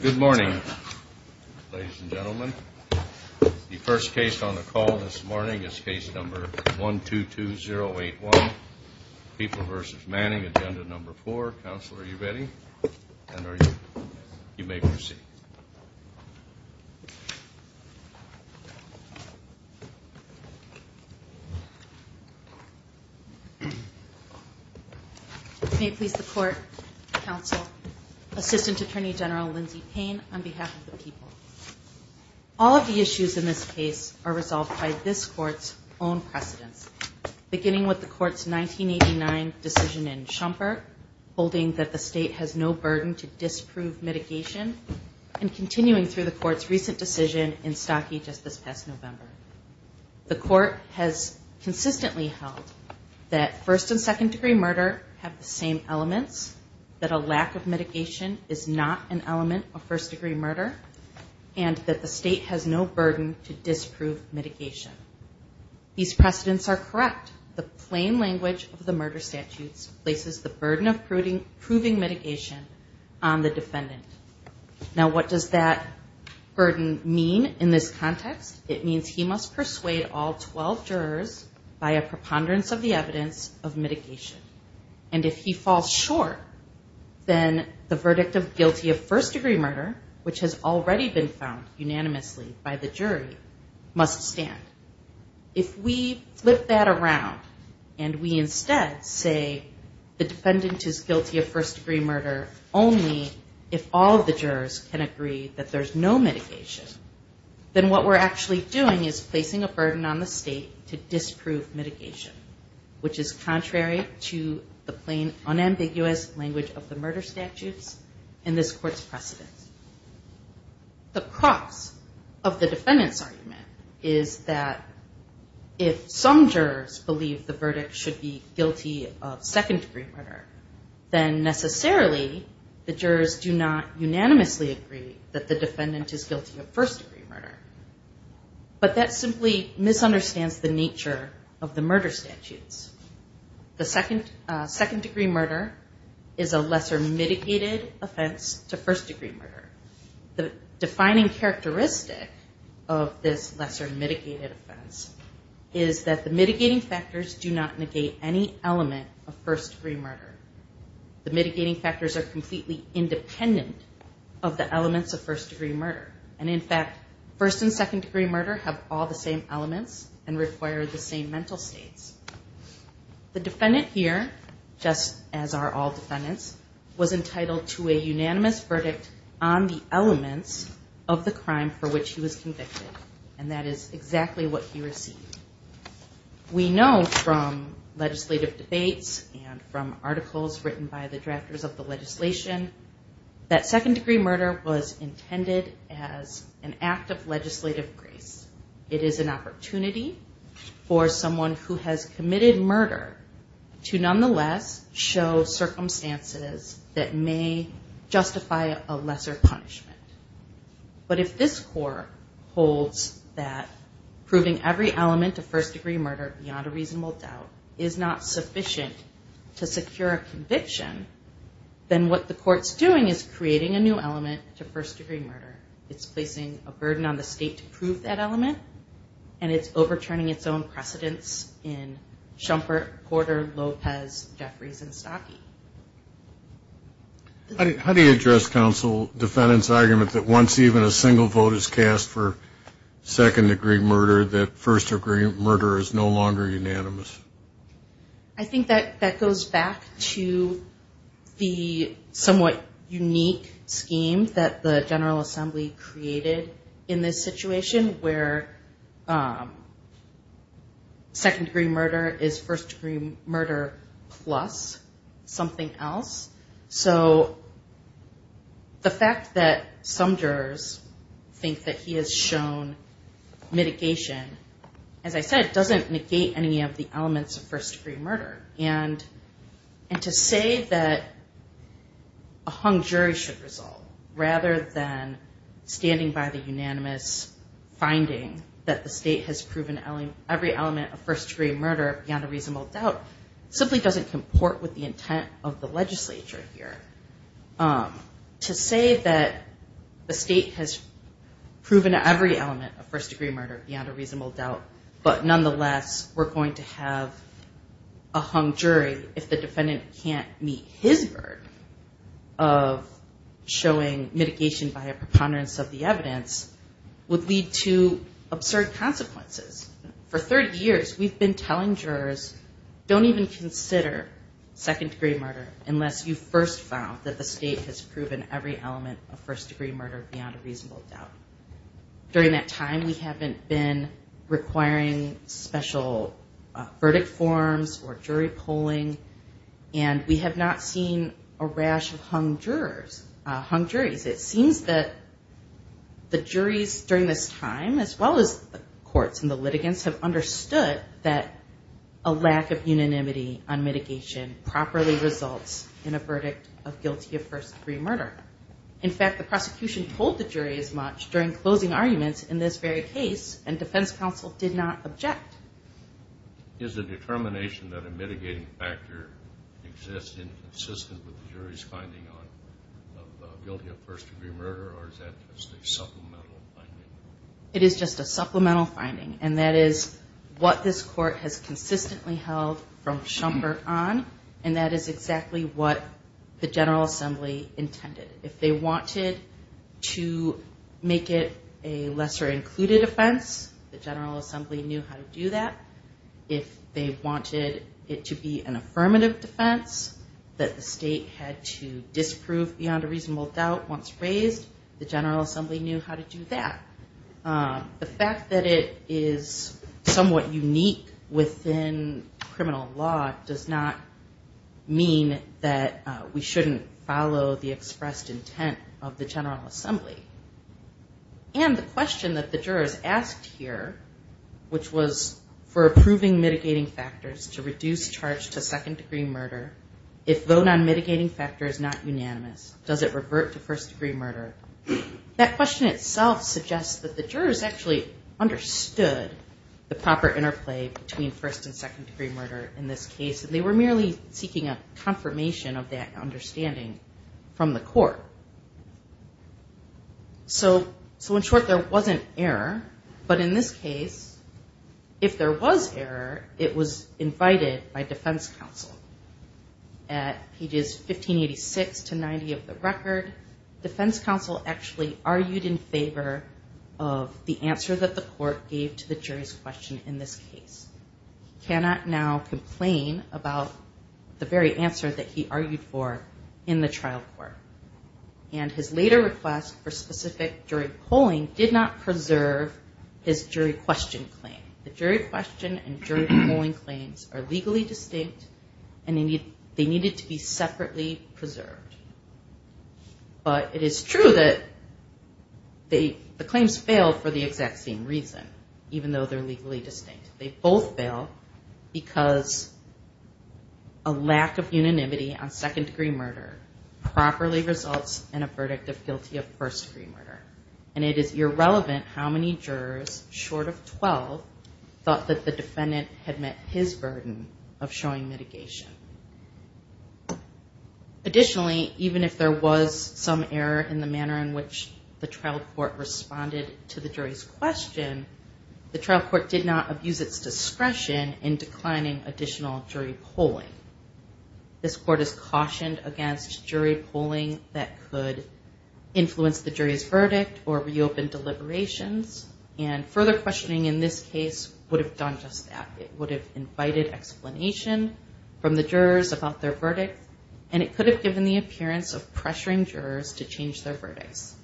Good morning, ladies and gentlemen. The first case on the call this morning is case number 122081, People v. Manning, agenda number 4. Counsel, are you ready? And are you? You may proceed. May it please the Court, Counsel, Assistant Attorney General Lindsay Payne, on behalf of the People. All of the issues in this case are resolved by this Court's own precedents, beginning with the Court's 1989 decision in Schumpeter, holding that the State has no burden to disprove mitigation, and continuing through the Court's recent decision in Stockie just this past November. The Court has consistently held that first and second degree murder have the same elements, that a lack of mitigation is not an element of first degree murder, and that the State has no burden to disprove mitigation. These precedents are correct. The plain language of the murder statutes places the burden of proving mitigation on the defendant. Now, what does that burden mean in this context? It means he must persuade all 12 jurors by a preponderance of the evidence of mitigation. And if he falls short, then the verdict of guilty of first degree murder, which has already been found unanimously by the jury, must stand. If we flip that around, and we instead say the defendant is guilty of first degree murder only if all of the jurors can agree that there's no mitigation, then what we're actually doing is placing a burden on the State to disprove mitigation, which is contrary to the plain, unambiguous language of the murder statutes in this Court's precedents. The crux of the defendant's argument is that if some jurors believe the verdict should be guilty of second degree murder, then necessarily the jurors do not unanimously agree that the defendant is guilty of first degree murder. But that simply misunderstands the nature of the murder statutes. The second degree murder is a lesser mitigated offense to first degree murder. The defining characteristic of this lesser mitigated offense is that the mitigating factors do not negate any element of first degree murder. The mitigating factors are completely independent of the elements of first degree murder. And in fact, first and second degree murder have all the same elements and require the same mental states. The defendant here, just as are all defendants, was entitled to a unanimous verdict on the elements of the crime for which he was convicted. And that is exactly what he received. We know from legislative debates and from articles written by the drafters of the legislation, that second degree murder was intended as an act of legislative grace. It is an opportunity for someone who has committed murder to nonetheless show circumstances that may justify a lesser punishment. But if this court holds that proving every element of first degree murder beyond a reasonable doubt is not sufficient to secure a conviction, then what the court's doing is creating a new element to first degree murder. It's placing a burden on the state to prove that element, and it's overturning its own precedence in Shumpert, Porter, Lopez, Jeffries, and Stockie. How do you address counsel defendant's argument that once even a single vote is cast for second degree murder, that first degree murder is no longer unanimous? I think that that goes back to the somewhat unique scheme that the General Assembly created in this situation, where second degree murder is first degree murder plus something else. So the fact that some jurors think that he has shown mitigation, as I said, doesn't negate any of the elements of first degree murder. And to say that a hung jury should resolve, rather than standing by the unanimous finding that the state has proven every element of first degree murder beyond a reasonable doubt, simply doesn't comport with the intent of the legislature here. To say that the state has proven every element of first degree murder beyond a reasonable doubt, but nonetheless we're going to have a hung jury if the defendant can't meet his burden of showing mitigation by a preponderance of the evidence, would lead to absurd consequences. For 30 years, we've been telling jurors, don't even consider second degree murder unless you've first found that the state has proven every element of first degree murder beyond a reasonable doubt. During that time, we haven't been requiring special verdict forms or jury polling, and we have not seen a rash of hung jurors, hung juries. It seems that the juries during this time, as well as the courts and the litigants, have understood that a lack of unanimity on mitigation properly results in a verdict of guilty of first degree murder. In fact, the prosecution told the jury as much during closing arguments in this very case, and defense counsel did not object. Is the determination that a mitigating factor exists inconsistent with the jury's finding of guilty of first degree murder, or is that just a supplemental finding? It is just a supplemental finding, and that is what this court has consistently held from Schumpert on, and that is exactly what the General Assembly intended. If they wanted to make it a lesser included offense, the General Assembly knew how to do that. If they wanted it to be an affirmative defense that the state had to disprove beyond a reasonable doubt once raised, the General Assembly knew how to do that. The fact that it is somewhat unique within criminal law does not mean that we shouldn't follow the expressed intent of the General Assembly. And the question that the jurors asked here, which was for approving mitigating factors to reduce charge to second degree murder, if vote on mitigating factor is not unanimous, does it revert to first degree murder? That question itself suggests that the jurors actually understood the proper interplay between first and second degree murder in this case, and they were merely seeking a confirmation of that understanding from the court. So in short, there wasn't error, but in this case, if there was error, it was invited by defense counsel. At pages 1586 to 90 of the record, defense counsel actually argued in favor of the answer that the court gave to the jury's question in this case. He cannot now complain about the very answer that he argued for in the trial court. And his later request for specific jury polling did not preserve his jury question claim. The jury question and jury polling claims are legally distinct, and they needed to be separately preserved. But it is true that the claims fail for the exact same reason, even though they're legally distinct. They both fail because a lack of unanimity on second degree murder properly results in a verdict of guilty of first degree murder. And it is irrelevant how many jurors, short of 12, thought that the defendant had met his burden of showing mitigation. Additionally, even if there was some error in the manner in which the trial court responded to the jury's question, the trial court did not abuse its discretion in declining additional jury polling. This court has cautioned against jury polling that could influence the jury's verdict or reopen deliberations. And further questioning in this case would have done just that. It would have invited explanation from the jurors about their verdict, and it could have given the appearance of pressuring jurors to change their verdicts.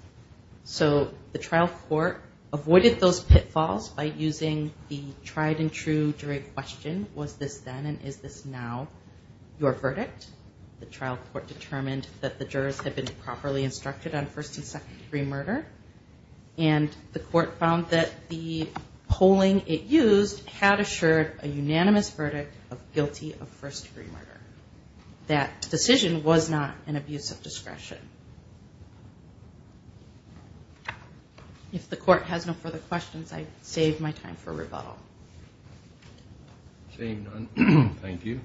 So the trial court avoided those pitfalls by using the tried and true jury question, was this then and is this now your verdict? The trial court determined that the jurors had been properly instructed on first and second degree murder. And the court found that the polling it used had assured a unanimous verdict of guilty of first degree murder. That decision was not an abuse of discretion. If the court has no further questions, I save my time for rebuttal. Seeing none, thank you.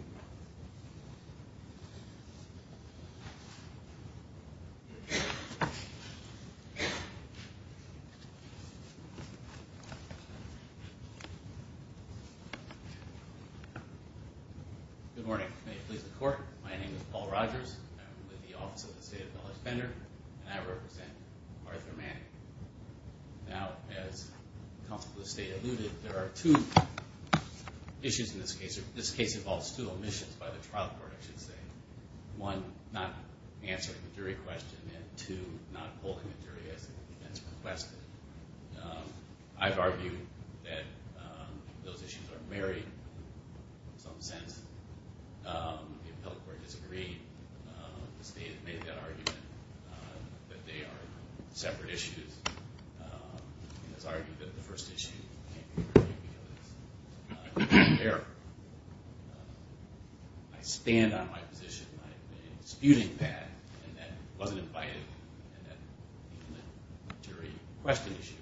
Good morning. May it please the court. My name is Paul Rogers. I'm with the Office of the State Appellate Defender, and I represent Martha Manning. Now, as the Counsel to the State alluded, there are two issues in this case. This case involves two omissions. One, not answering the jury question, and two, not holding the jury as it has been requested. I've argued that those issues are married in some sense. The appellate court disagreed. The state made that argument that they are separate issues. And has argued that the first issue can't be reviewed because it's not a clear error. I stand on my position in disputing that, and that wasn't invited, and that the jury question issue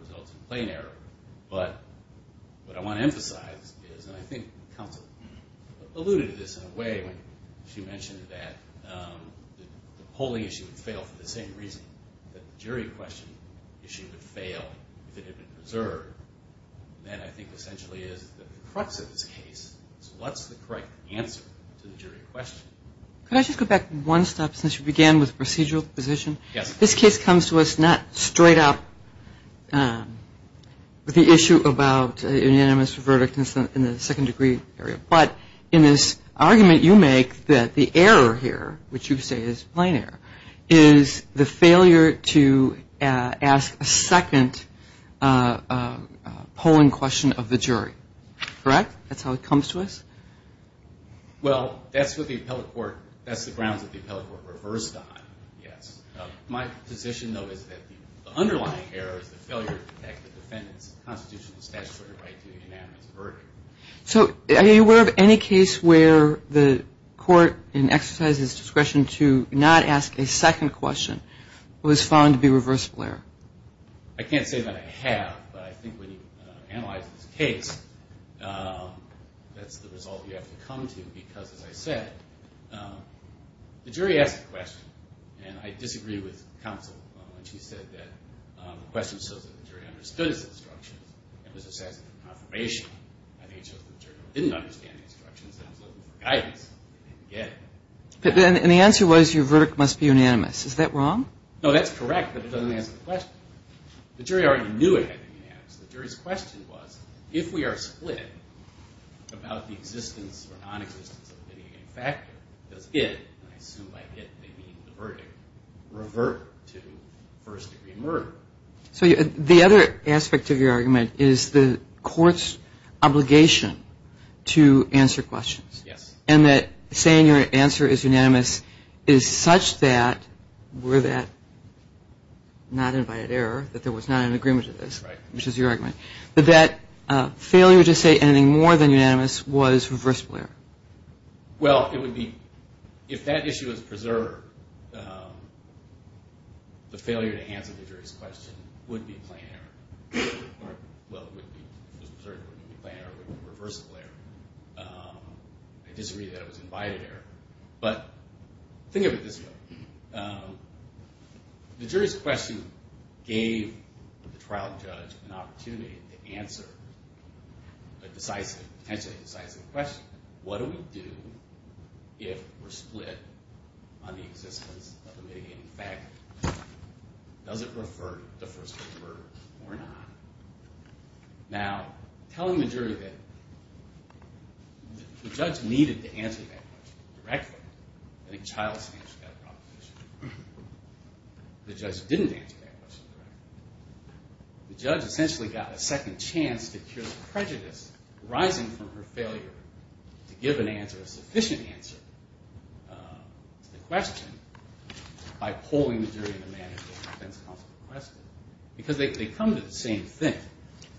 results in plain error. But what I want to emphasize is, and I think counsel alluded to this in a way when she mentioned that, the polling issue would fail for the same reason that the jury question issue would fail if it had been preserved. That I think essentially is the crux of this case. So what's the correct answer to the jury question? Could I just go back one step since you began with procedural position? Yes. This case comes to us not straight up with the issue about unanimous verdict in the second degree area, but in this argument you make that the error here, which you say is plain error, is the failure to ask a second polling question of the jury. Correct? That's how it comes to us? Well, that's what the appellate court, that's the grounds that the appellate court reversed on, yes. My position, though, is that the underlying error is the failure to protect the defendant's constitutional statutory right to the unanimous verdict. So are you aware of any case where the court exercised its discretion to not ask a second question but was found to be a reversible error? I can't say that I have, but I think when you analyze this case that's the result you have to come to because, as I said, the jury asked a question, and I disagree with counsel when she said that the question shows that the jury understood its instructions and was assessing for confirmation. I think it shows that the jury didn't understand the instructions and was looking for guidance. They didn't get it. And the answer was your verdict must be unanimous. Is that wrong? No, that's correct, but it doesn't answer the question. The jury already knew it had to be unanimous. The jury's question was if we are split about the existence or nonexistence of a litigation factor, does it, and I assume by it they mean the verdict, revert to first-degree murder? So the other aspect of your argument is the court's obligation to answer questions. Yes. And that saying your answer is unanimous is such that were that not invited error, that there was not an agreement to this, which is your argument, that that failure to say anything more than unanimous was reversible error? Well, it would be, if that issue was preserved, the failure to answer the jury's question would be plan error. Well, it would be, if it was preserved, it would be plan error. It would be reversible error. I disagree that it was invited error, but think of it this way. The jury's question gave the trial judge an opportunity to answer a decisive, potentially decisive question. What do we do if we're split on the existence of a mitigating factor? Does it revert to first-degree murder or not? Now, telling the jury that the judge needed to answer that question directly, I think child stand should have that proposition. The judge didn't answer that question directly. The judge essentially got a second chance to cure the prejudice arising from her failure to give an answer, a sufficient answer to the question by polling the jury in the manner the defense counsel requested, because they come to the same thing.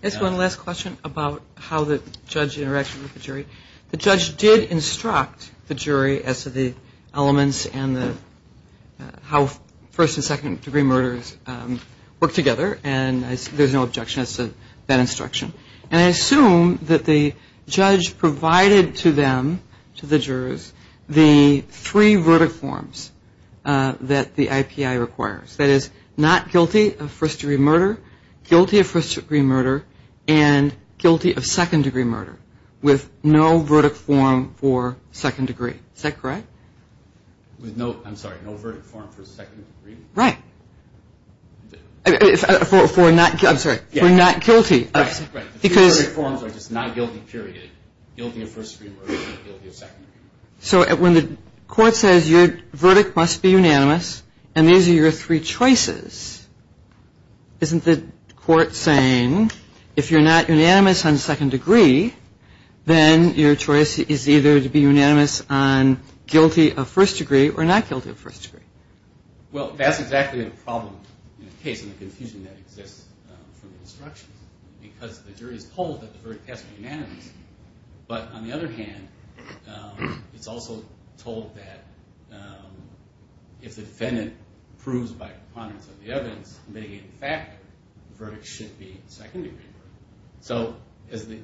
Just one last question about how the judge interacted with the jury. The judge did instruct the jury as to the elements and how first- work together, and there's no objection as to that instruction. And I assume that the judge provided to them, to the jurors, the three verdict forms that the IPI requires. That is, not guilty of first-degree murder, guilty of first-degree murder, and guilty of second-degree murder with no verdict form for second degree. Is that correct? With no, I'm sorry, no verdict form for second degree? Right. For not, I'm sorry, for not guilty. Right, the three verdict forms are just not guilty, period. Guilty of first-degree murder and guilty of second-degree murder. So when the court says your verdict must be unanimous and these are your three choices, isn't the court saying if you're not unanimous on second degree, then your choice is either to be unanimous on guilty of first degree or not guilty of first degree? Well, that's exactly the problem in the case and the confusion that exists from the instructions because the jury is told that the verdict has to be unanimous. But on the other hand, it's also told that if the defendant proves by preponderance of the evidence, in fact, the verdict should be second-degree murder. So as the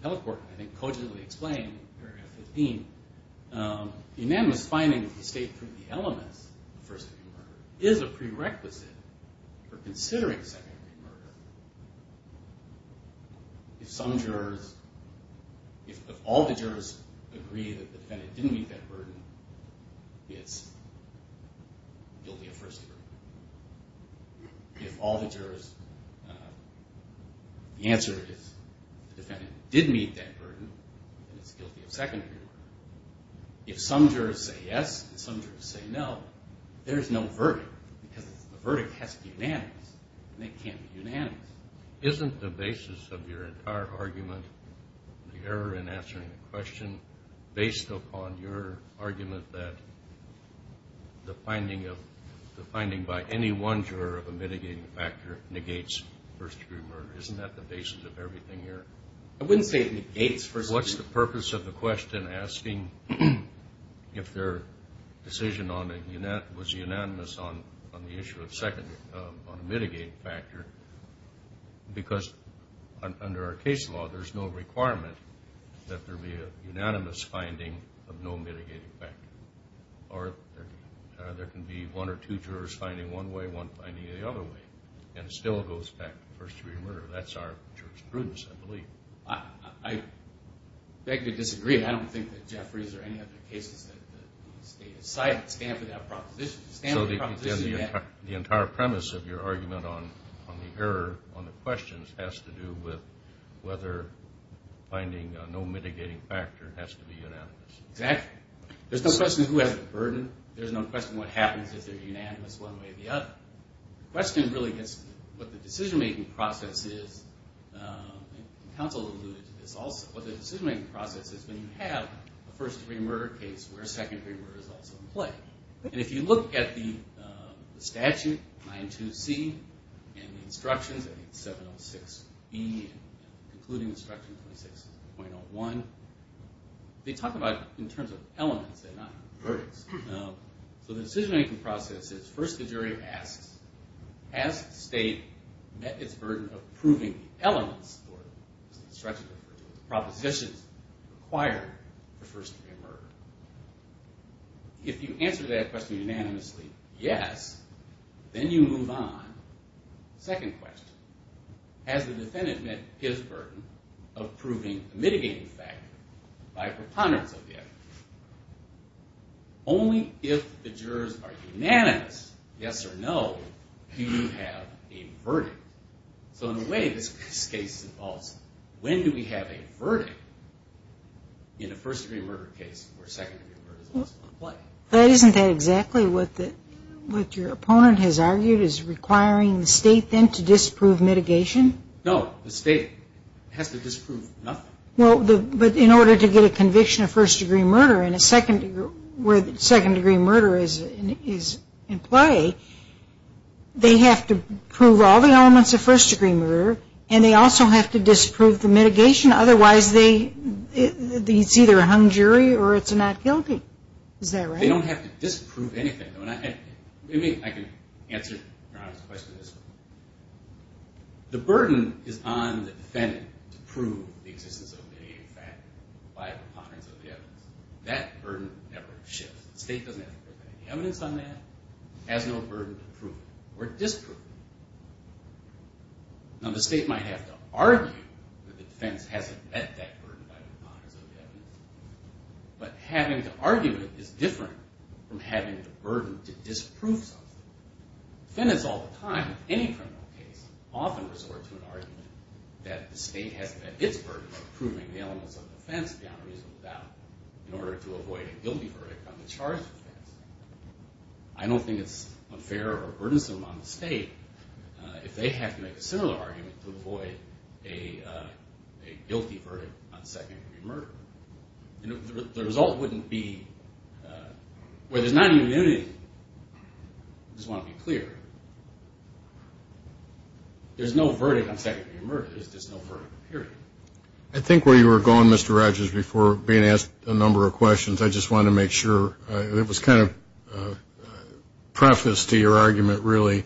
appellate court, I think, cogently explained in paragraph 15, the unanimous finding that you state through the elements of first-degree murder is a prerequisite for considering second-degree murder. If some jurors, if all the jurors agree that the defendant didn't meet that burden, it's guilty of first-degree murder. If all the jurors, the answer is the defendant did meet that burden, then it's guilty of second-degree murder. If some jurors say yes and some jurors say no, there is no verdict because the verdict has to be unanimous and it can't be unanimous. Isn't the basis of your entire argument, the error in answering the question, based upon your argument that the finding by any one juror of a mitigating factor negates first-degree murder? Isn't that the basis of everything here? I wouldn't say it negates first-degree murder. What's the purpose of the question asking if their decision was unanimous on the issue of second, on a mitigating factor? Because under our case law, there's no requirement that there be a unanimous finding of no mitigating factor. Or there can be one or two jurors finding one way, one finding the other way, and it still goes back to first-degree murder. That's our jurisprudence, I believe. I beg to disagree. I don't think that Jeffries or any of the cases that you cite stand for that proposition. So the entire premise of your argument on the error on the questions has to do with whether finding no mitigating factor has to be unanimous. Exactly. There's no question of who has the burden. There's no question of what happens if they're unanimous one way or the other. The question really is what the decision-making process is, and counsel alluded to this also, what the decision-making process is when you have a first-degree murder case where a second-degree murder is also in play. And if you look at the statute, 9-2-C, and the instructions, 7-06-B, including instruction 26.01, they talk about it in terms of elements and not verdicts. So the decision-making process is first the jury asks, has the state met its burden of proving the elements, or as the instructions refer to it, the propositions required for first-degree murder? If you answer that question unanimously, yes, then you move on. Second question, has the defendant met his burden of proving a mitigating factor by preponderance of the evidence? Only if the jurors are unanimous, yes or no, do you have a verdict. So in a way, this case involves when do we have a verdict in a first-degree murder case where second-degree murder is also in play? Isn't that exactly what your opponent has argued, is requiring the state then to disprove mitigation? No, the state has to disprove nothing. But in order to get a conviction of first-degree murder where second-degree murder is in play, they have to prove all the elements of first-degree murder, and they also have to disprove the mitigation. Otherwise, it's either a hung jury or it's a not guilty. Is that right? They don't have to disprove anything. I can answer Ron's question this way. The burden is on the defendant to prove the existence of a mitigating factor by preponderance of the evidence. That burden never shifts. The state doesn't have to prove any evidence on that. It has no burden to prove it or disprove it. Now, the state might have to argue that the defense hasn't met that burden by preponderance of the evidence. But having to argue it is different from having the burden to disprove something. Defendants all the time, in any criminal case, often resort to an argument that the state has met its burden of proving the elements of the offense beyond reasonable doubt in order to avoid a guilty verdict on the charged offense. I don't think it's unfair or burdensome on the state if they have to make a similar argument to avoid a guilty verdict on secondary murder. The result wouldn't be, well, there's not even unity. I just want to be clear. There's no verdict on secondary murder. There's just no verdict, period. I think where you were going, Mr. Rogers, before being asked a number of questions, I just wanted to make sure it was kind of preface to your argument, really.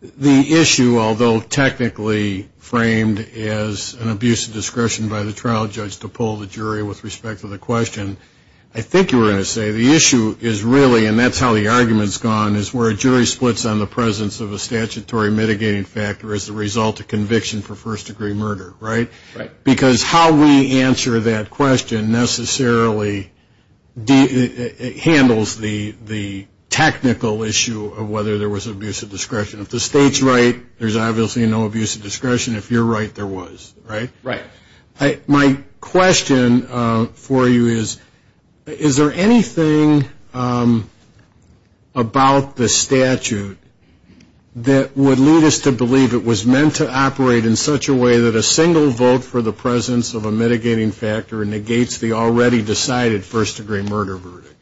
The issue, although technically framed as an abuse of discretion by the trial judge to pull the jury with respect to the question, I think you were going to say the issue is really, and that's how the argument's gone, is where a jury splits on the presence of a statutory mitigating factor as a result of conviction for first-degree murder, right? Because how we answer that question necessarily handles the technical issue of whether there was abuse of discretion. If the state's right, there's obviously no abuse of discretion. If you're right, there was, right? Right. My question for you is, is there anything about the statute that would lead us to believe it was meant to operate in such a way that a single vote for the presence of a mitigating factor negates the already decided first-degree murder verdict?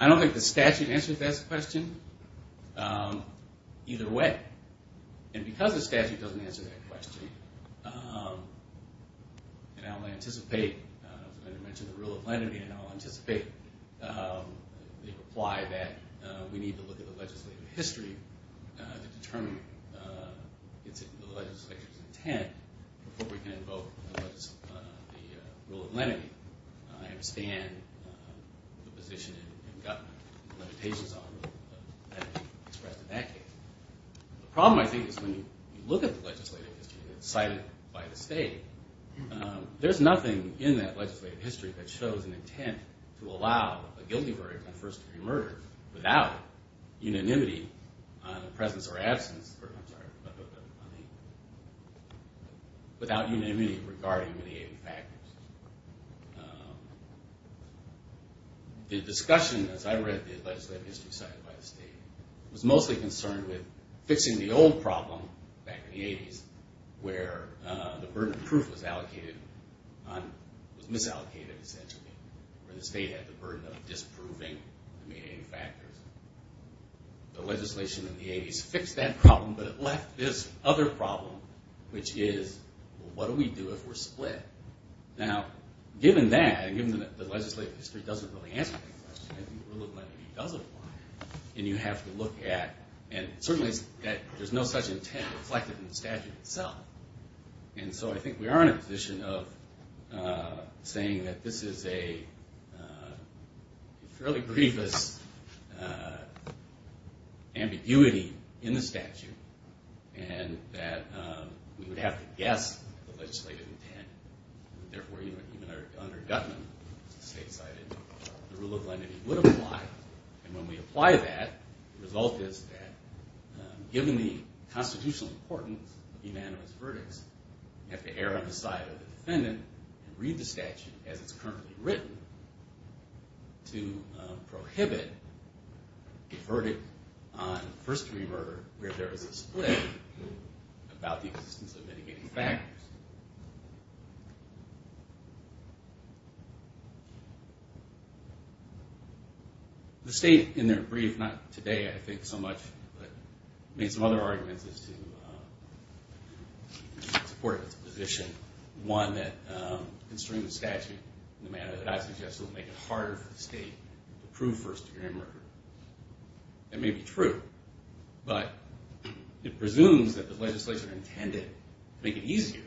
I don't think the statute answers that question either way. And because the statute doesn't answer that question, and I'll anticipate, as I mentioned the rule of lenity, and I'll anticipate the reply that we need to look at the legislative history to determine the legislature's intent before we can invoke the rule of lenity, I understand the position and the limitations on the rule of lenity expressed in that case. The problem, I think, is when you look at the legislative history that's cited by the state, there's nothing in that legislative history that shows an intent to allow a guilty verdict on first-degree murder without unanimity on the presence or absence, I'm sorry, without unanimity regarding mitigating factors. The discussion, as I read the legislative history cited by the state, was mostly concerned with fixing the old problem back in the 80s where the burden of proof was allocated, was misallocated, essentially, where the state had the burden of disproving the mitigating factors. The legislation in the 80s fixed that problem, but it left this other problem, which is, well, what do we do if we're split? Now, given that, and given that the legislative history doesn't really answer that question, I think the rule of lenity does apply, and you have to look at, and certainly there's no such intent reflected in the statute itself. And so I think we are in a position of saying that this is a fairly grievous ambiguity in the statute and that we would have to guess the legislative intent. Therefore, even under Gutman, the rule of lenity would apply, and when we apply that, the result is that, given the constitutional importance of unanimous verdicts, you have to err on the side of the defendant and read the statute as it's currently written to prohibit a verdict on first-degree murder where there is a split about the existence of mitigating factors. The state, in their brief, not today I think so much, but made some other arguments as to support its position. One that, considering the statute in the manner that I suggested, would make it harder for the state to prove first-degree murder. That may be true, but it presumes that the legislature intended to make it easier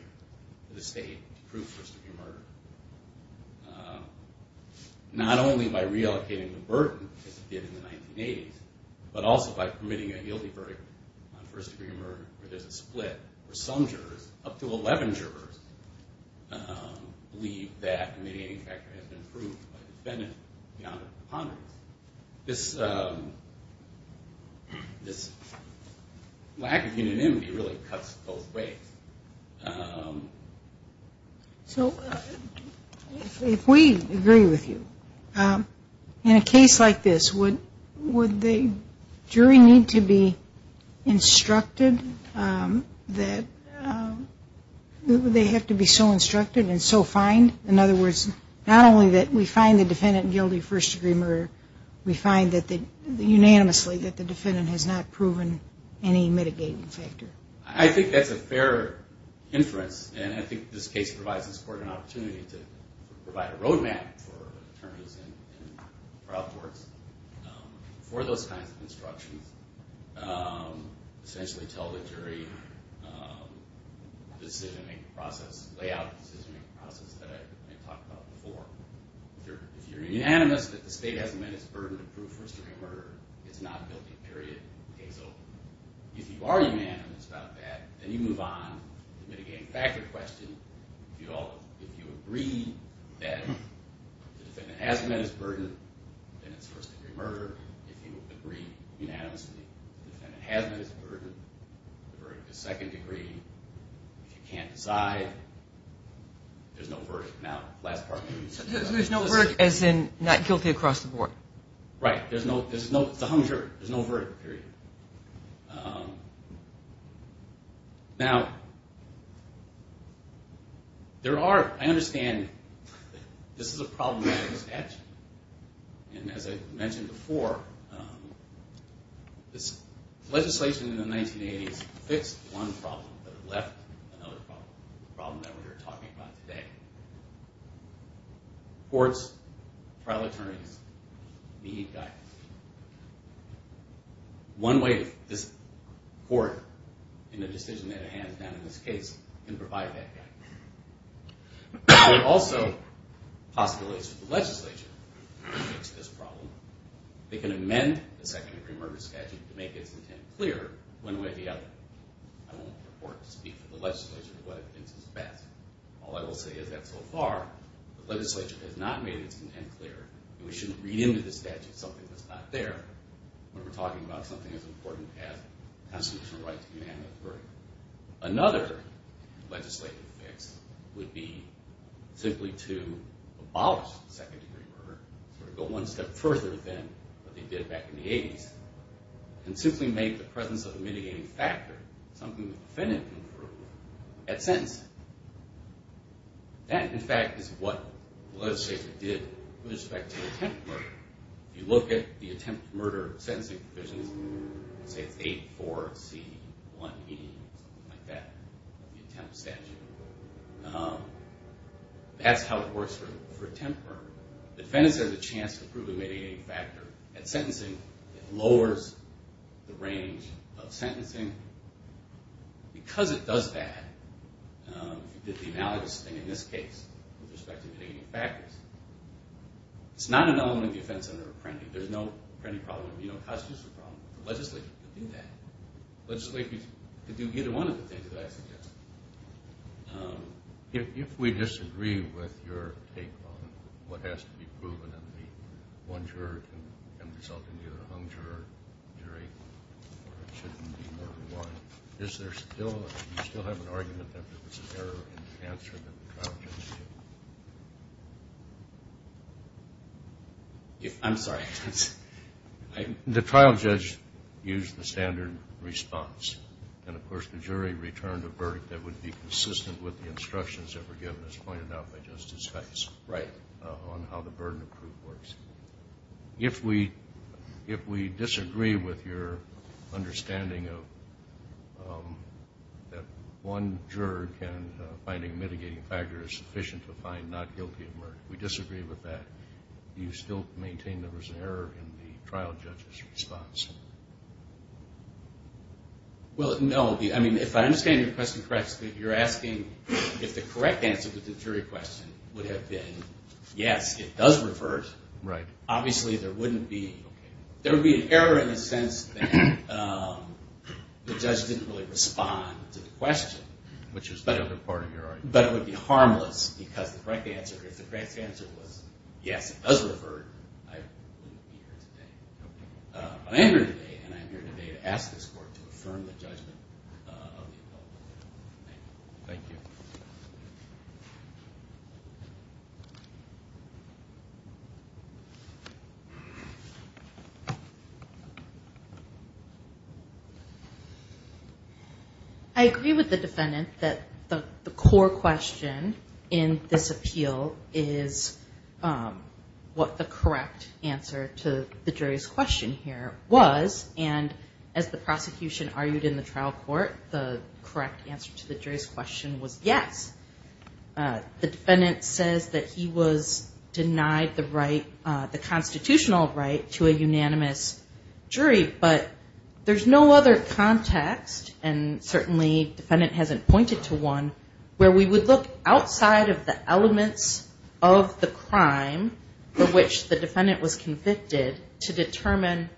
for the state to prove first-degree murder, not only by reallocating the burden as it did in the 1980s, but also by permitting a guilty verdict on first-degree murder where there's a split where some jurors, up to 11 jurors, believe that a mitigating factor has been proved by the defendant beyond a preponderance. This lack of unanimity really cuts both ways. So if we agree with you, in a case like this, would the jury need to be instructed that they have to be so instructed and so fined? In other words, not only that we find the defendant guilty of first-degree murder, we find unanimously that the defendant has not proven any mitigating factor. I think that's a fair inference, and I think this case provides this court an opportunity to provide a roadmap for attorneys and trial courts for those kinds of instructions. Essentially tell the jury the layout of the decision-making process that I talked about before. If you're unanimous that the state has met its burden to prove first-degree murder, it's not guilty, period. So if you are unanimous about that, then you move on to the mitigating factor question. If you agree that the defendant has met its burden, then it's first-degree murder. If you agree unanimously that the defendant has met its burden, the verdict is second-degree. If you can't decide, there's no verdict. There's no verdict as in not guilty across the board? Right. It's a hung jury. There's no verdict, period. Now, I understand this is a problematic statute. And as I mentioned before, this legislation in the 1980s fixed one problem, but it left another problem, the problem that we are talking about today. Courts, trial attorneys, need guidance. One way this court, in the decision that it hands down in this case, can provide that guidance. There are also possibilities for the legislature to fix this problem. They can amend the second-degree murder statute to make its intent clear one way or the other. I won't purport to speak for the legislature in what it thinks is best. All I will say is that so far, the legislature has not made its intent clear that we shouldn't read into this statute something that's not there when we're talking about something as important as constitutional rights being handled as a verdict. Another legislative fix would be simply to abolish second-degree murder, sort of go one step further than what they did back in the 80s, and simply make the presence of a mitigating factor, something the defendant can prove, at sentencing. That, in fact, is what the legislature did with respect to attempt murder. If you look at the attempt murder sentencing provisions, say it's 8-4-C-1-E, something like that, the attempt statute, that's how it works for attempt murder. The defendant has a chance to prove a mitigating factor at sentencing. It lowers the range of sentencing. Because it does that, if you did the analogous thing in this case with respect to mitigating factors, it's not an element of the offense under apprendee. There's no apprendee problem. There's no constitutional problem. The legislature could do that. The legislature could do either one of the things that I suggested. If we disagree with your take on what has to be proven, and one juror can result in either a hung juror, jury, or it shouldn't be more than one, do you still have an argument that there's an error in the answer that the trial judge gave? I'm sorry. The trial judge used the standard response. And, of course, the jury returned a verdict that would be consistent with the instructions that were given as pointed out by Justice Hikes on how the burden of proof works. If we disagree with your understanding that one juror can find a mitigating factor is sufficient to find not guilty of murder, we disagree with that, do you still maintain there was an error in the trial judge's response? Well, no. I mean, if I understand your question correctly, you're asking if the correct answer to the jury question would have been, yes, it does revert. Right. Obviously, there wouldn't be – there would be an error in the sense that the judge didn't really respond to the question. Which is the other part of your argument. But it would be harmless because the correct answer, if the correct answer was, yes, it does revert, I wouldn't be here today. I'm here today, and I'm here today to ask this court to affirm the judgment of the appellate. Thank you. Thank you. I agree with the defendant that the core question in this appeal is what the correct answer to the jury's question here was, and as the prosecution argued in the trial court, the correct answer to the jury's question was yes. The defendant says that he was denied the constitutional right to a unanimous jury, but there's no other context, and certainly the defendant hasn't pointed to one, where we would look outside of the elements of the crime for which the defendant was convicted to determine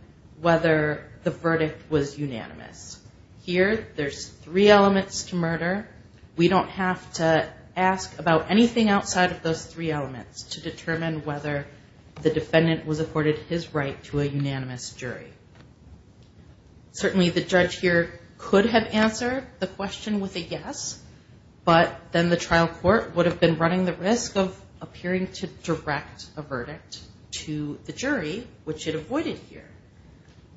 whether the verdict was unanimous. Here, there's three elements to murder. We don't have to ask about anything outside of those three elements to determine whether the defendant was afforded his right to a unanimous jury. Certainly, the judge here could have answered the question with a yes, but then the trial court would have been running the risk of appearing to direct a verdict to the jury, which it avoided here.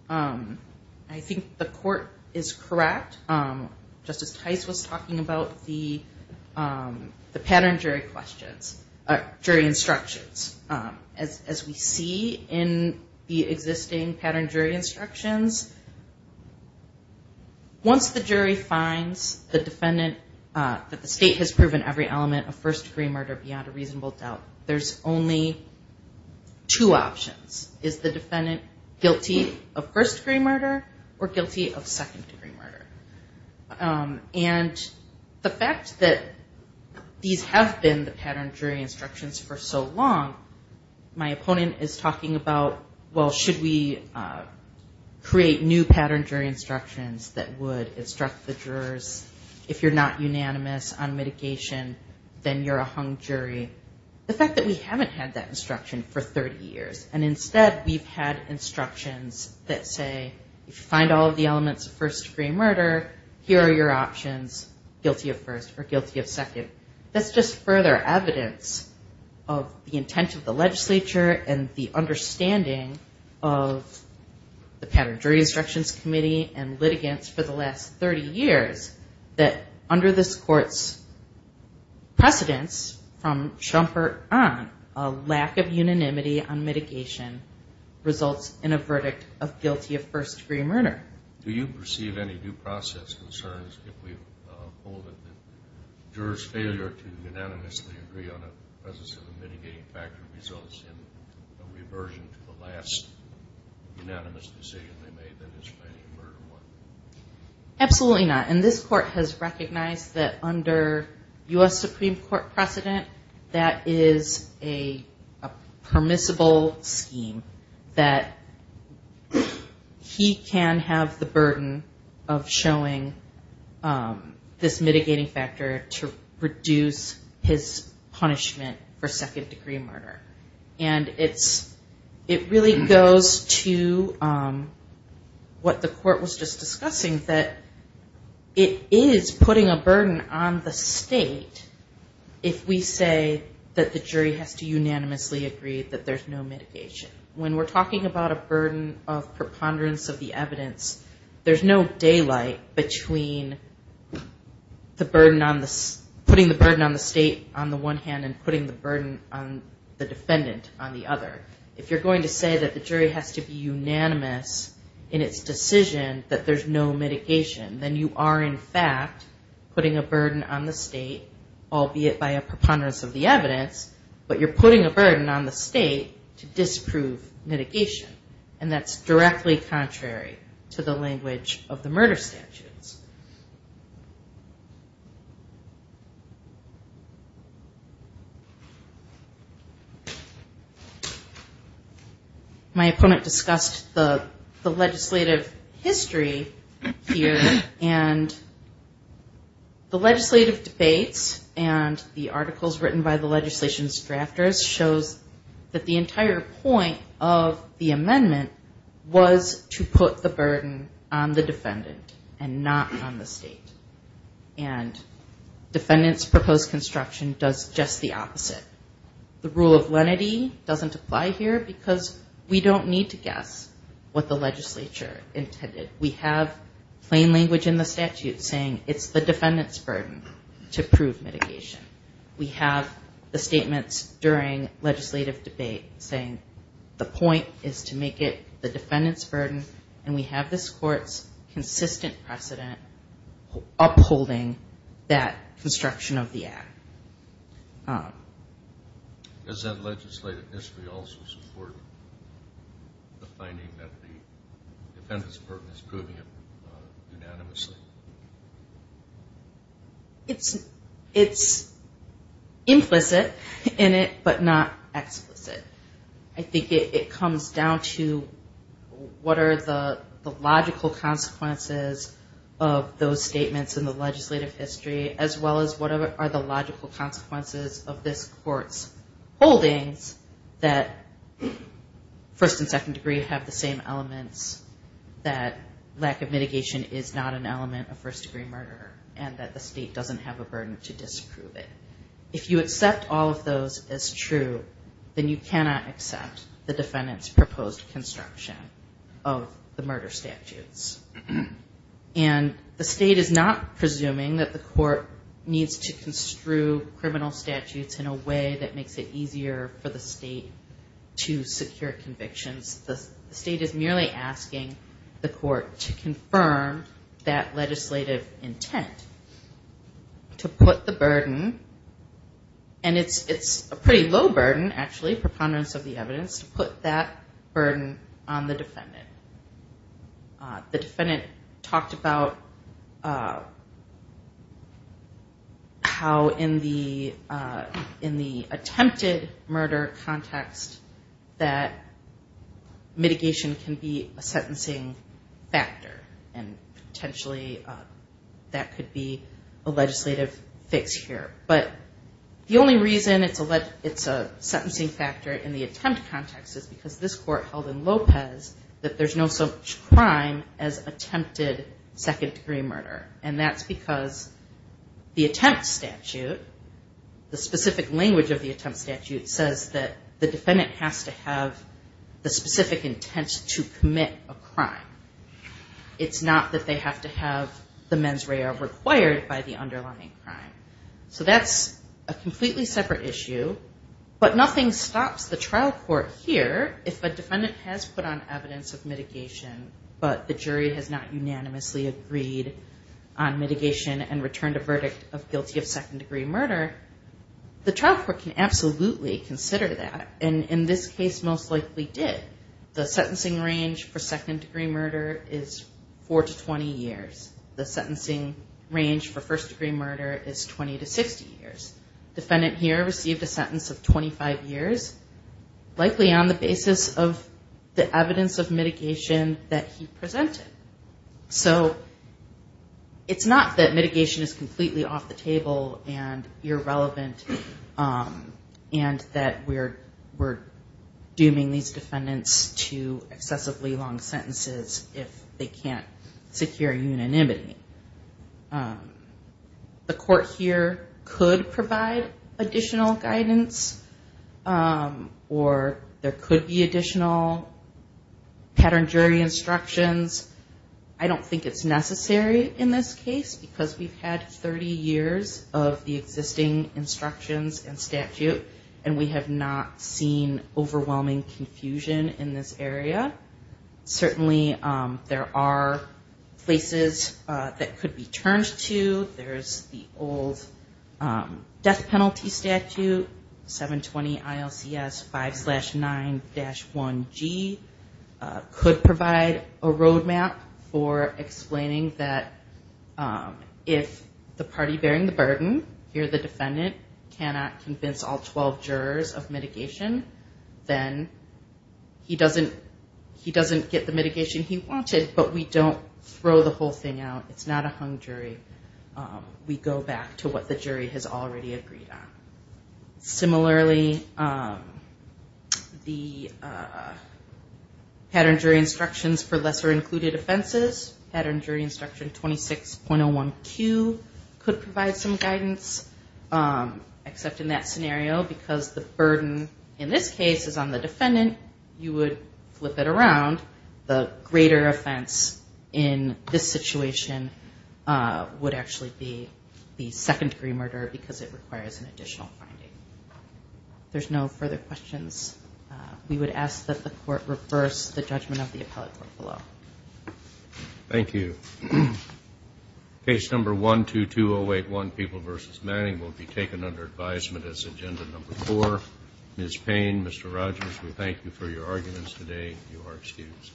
I think the court is correct. Justice Tice was talking about the pattern jury questions, jury instructions. As we see in the existing pattern jury instructions, once the jury finds the defendant, that the state has proven every element of first-degree murder beyond a reasonable doubt, there's only two options. Is the defendant guilty of first-degree murder or guilty of second-degree murder? The fact that these have been the pattern jury instructions for so long, my opponent is talking about, well, should we create new pattern jury instructions that would instruct the jurors, if you're not unanimous on mitigation, then you're a hung jury. The fact that we haven't had that instruction for 30 years, and instead we've had instructions that say, if you find all of the elements of first-degree murder, here are your options, guilty of first or guilty of second. That's just further evidence of the intent of the legislature and the understanding of the pattern jury instructions committee and litigants for the last 30 years, that under this court's precedence from Schumpeter on, a lack of unanimity on mitigation results in a verdict of guilty of first-degree murder. Do you perceive any due process concerns, if we hold it, that jurors' failure to unanimously agree on the presence of a mitigating factor results in a reversion to the last unanimous decision they made, that is planning murder one? Absolutely not. And this court has recognized that under U.S. Supreme Court precedent, that is a permissible scheme, that he can have the burden of showing this mitigating factor to reduce his punishment for second-degree murder. And it really goes to what the court was just discussing, that it is putting a burden on the state, if we say that the jury has to unanimously agree that there's no mitigation. When we're talking about a burden of preponderance of the evidence, there's no daylight between putting the burden on the state on the one hand and putting the burden on the defendant on the other. If you're going to say that the jury has to be unanimous in its decision, that there's no mitigation, then you are in fact putting a burden on the state, albeit by a preponderance of the evidence, but you're putting a burden on the state to disprove mitigation. And that's directly contrary to the language of the murder statutes. My opponent discussed the legislative history here, and the legislative debates and the articles written by the legislation's drafters shows that the entire point of the amendment was to put the burden on the defendant and not on the state. And defendant's proposed construction does just the opposite. The rule of lenity doesn't apply here because we don't need to guess what the legislature intended. We have plain language in the statute saying it's the defendant's burden to prove mitigation. We have the statements during legislative debate saying the point is to make it the defendant's burden, and we have this court's consistent precedent upholding that construction of the act. Does that legislative history also support the finding that the defendant's burden is proving it unanimously? It's implicit in it, but not explicit. I think it comes down to what are the logical consequences of those statements in the legislative history, as well as what are the logical consequences of this court's holdings that first and second degree have the same elements, that lack of mitigation is not an element of first degree murder, and that the state doesn't have a burden to disprove it. It cannot accept the defendant's proposed construction of the murder statutes. And the state is not presuming that the court needs to construe criminal statutes in a way that makes it easier for the state to secure convictions. The state is merely asking the court to confirm that legislative intent, to put the burden, and it's a pretty low burden actually, preponderance of the evidence, to put that burden on the defendant. The defendant talked about how in the attempted murder context that mitigation can be a sentencing factor, and potentially that could be a legislative fix here. But the only reason it's a sentencing factor in the attempt context is because this court held in Lopez that there's no such crime as attempted second degree murder, and that's because the attempt statute, the specific language of the attempt statute, says that the defendant has to have the specific intent to commit a crime. It's not that they have to have the mens rea required by the underlying crime. So that's a completely separate issue, but nothing stops the trial court here if a defendant has put on evidence of mitigation, but the jury has not unanimously agreed on mitigation and returned a verdict of guilty of second degree murder, the trial court can absolutely consider that, and in this case most likely did. The sentencing range for second degree murder is four to 20 years. The sentencing range for first degree murder is 20 to 60 years. Defendant here received a sentence of 25 years, likely on the basis of the evidence of mitigation that he presented. So it's not that mitigation is completely off the table and irrelevant, and that we're dooming these defendants to excessively long sentences if they can't secure unanimity. The court here could provide additional guidance, or there could be additional pattern jury instructions. I don't think it's necessary in this case because we've had 30 years of the existing instruction and statute and we have not seen overwhelming confusion in this area. Certainly there are places that could be turned to, there's the old death penalty statute, 720 ILCS 5-9-1G could provide a road map for explaining that if the party bearing the burden, here the defendant, cannot convince all 12 jurors of mitigation, then he doesn't get the mitigation he wanted, but we don't throw the whole thing out, it's not a hung jury, we go back to what the jury has already agreed on. Similarly, the pattern jury instructions for lesser included offenses, pattern jury instruction 26.01Q could provide some guidance, except in that scenario because the burden in this case is on the defendant, you would flip it around, the greater offense in this situation would actually be the second degree murder because it requires an additional finding. If there's no further questions, we would ask that the court reverse the judgment of the appellate court below. Thank you. Case number 122081, People v. Manning will be taken under advisement as agenda number 4. Ms. Payne, Mr. Rogers, we thank you for your arguments today, you are excused.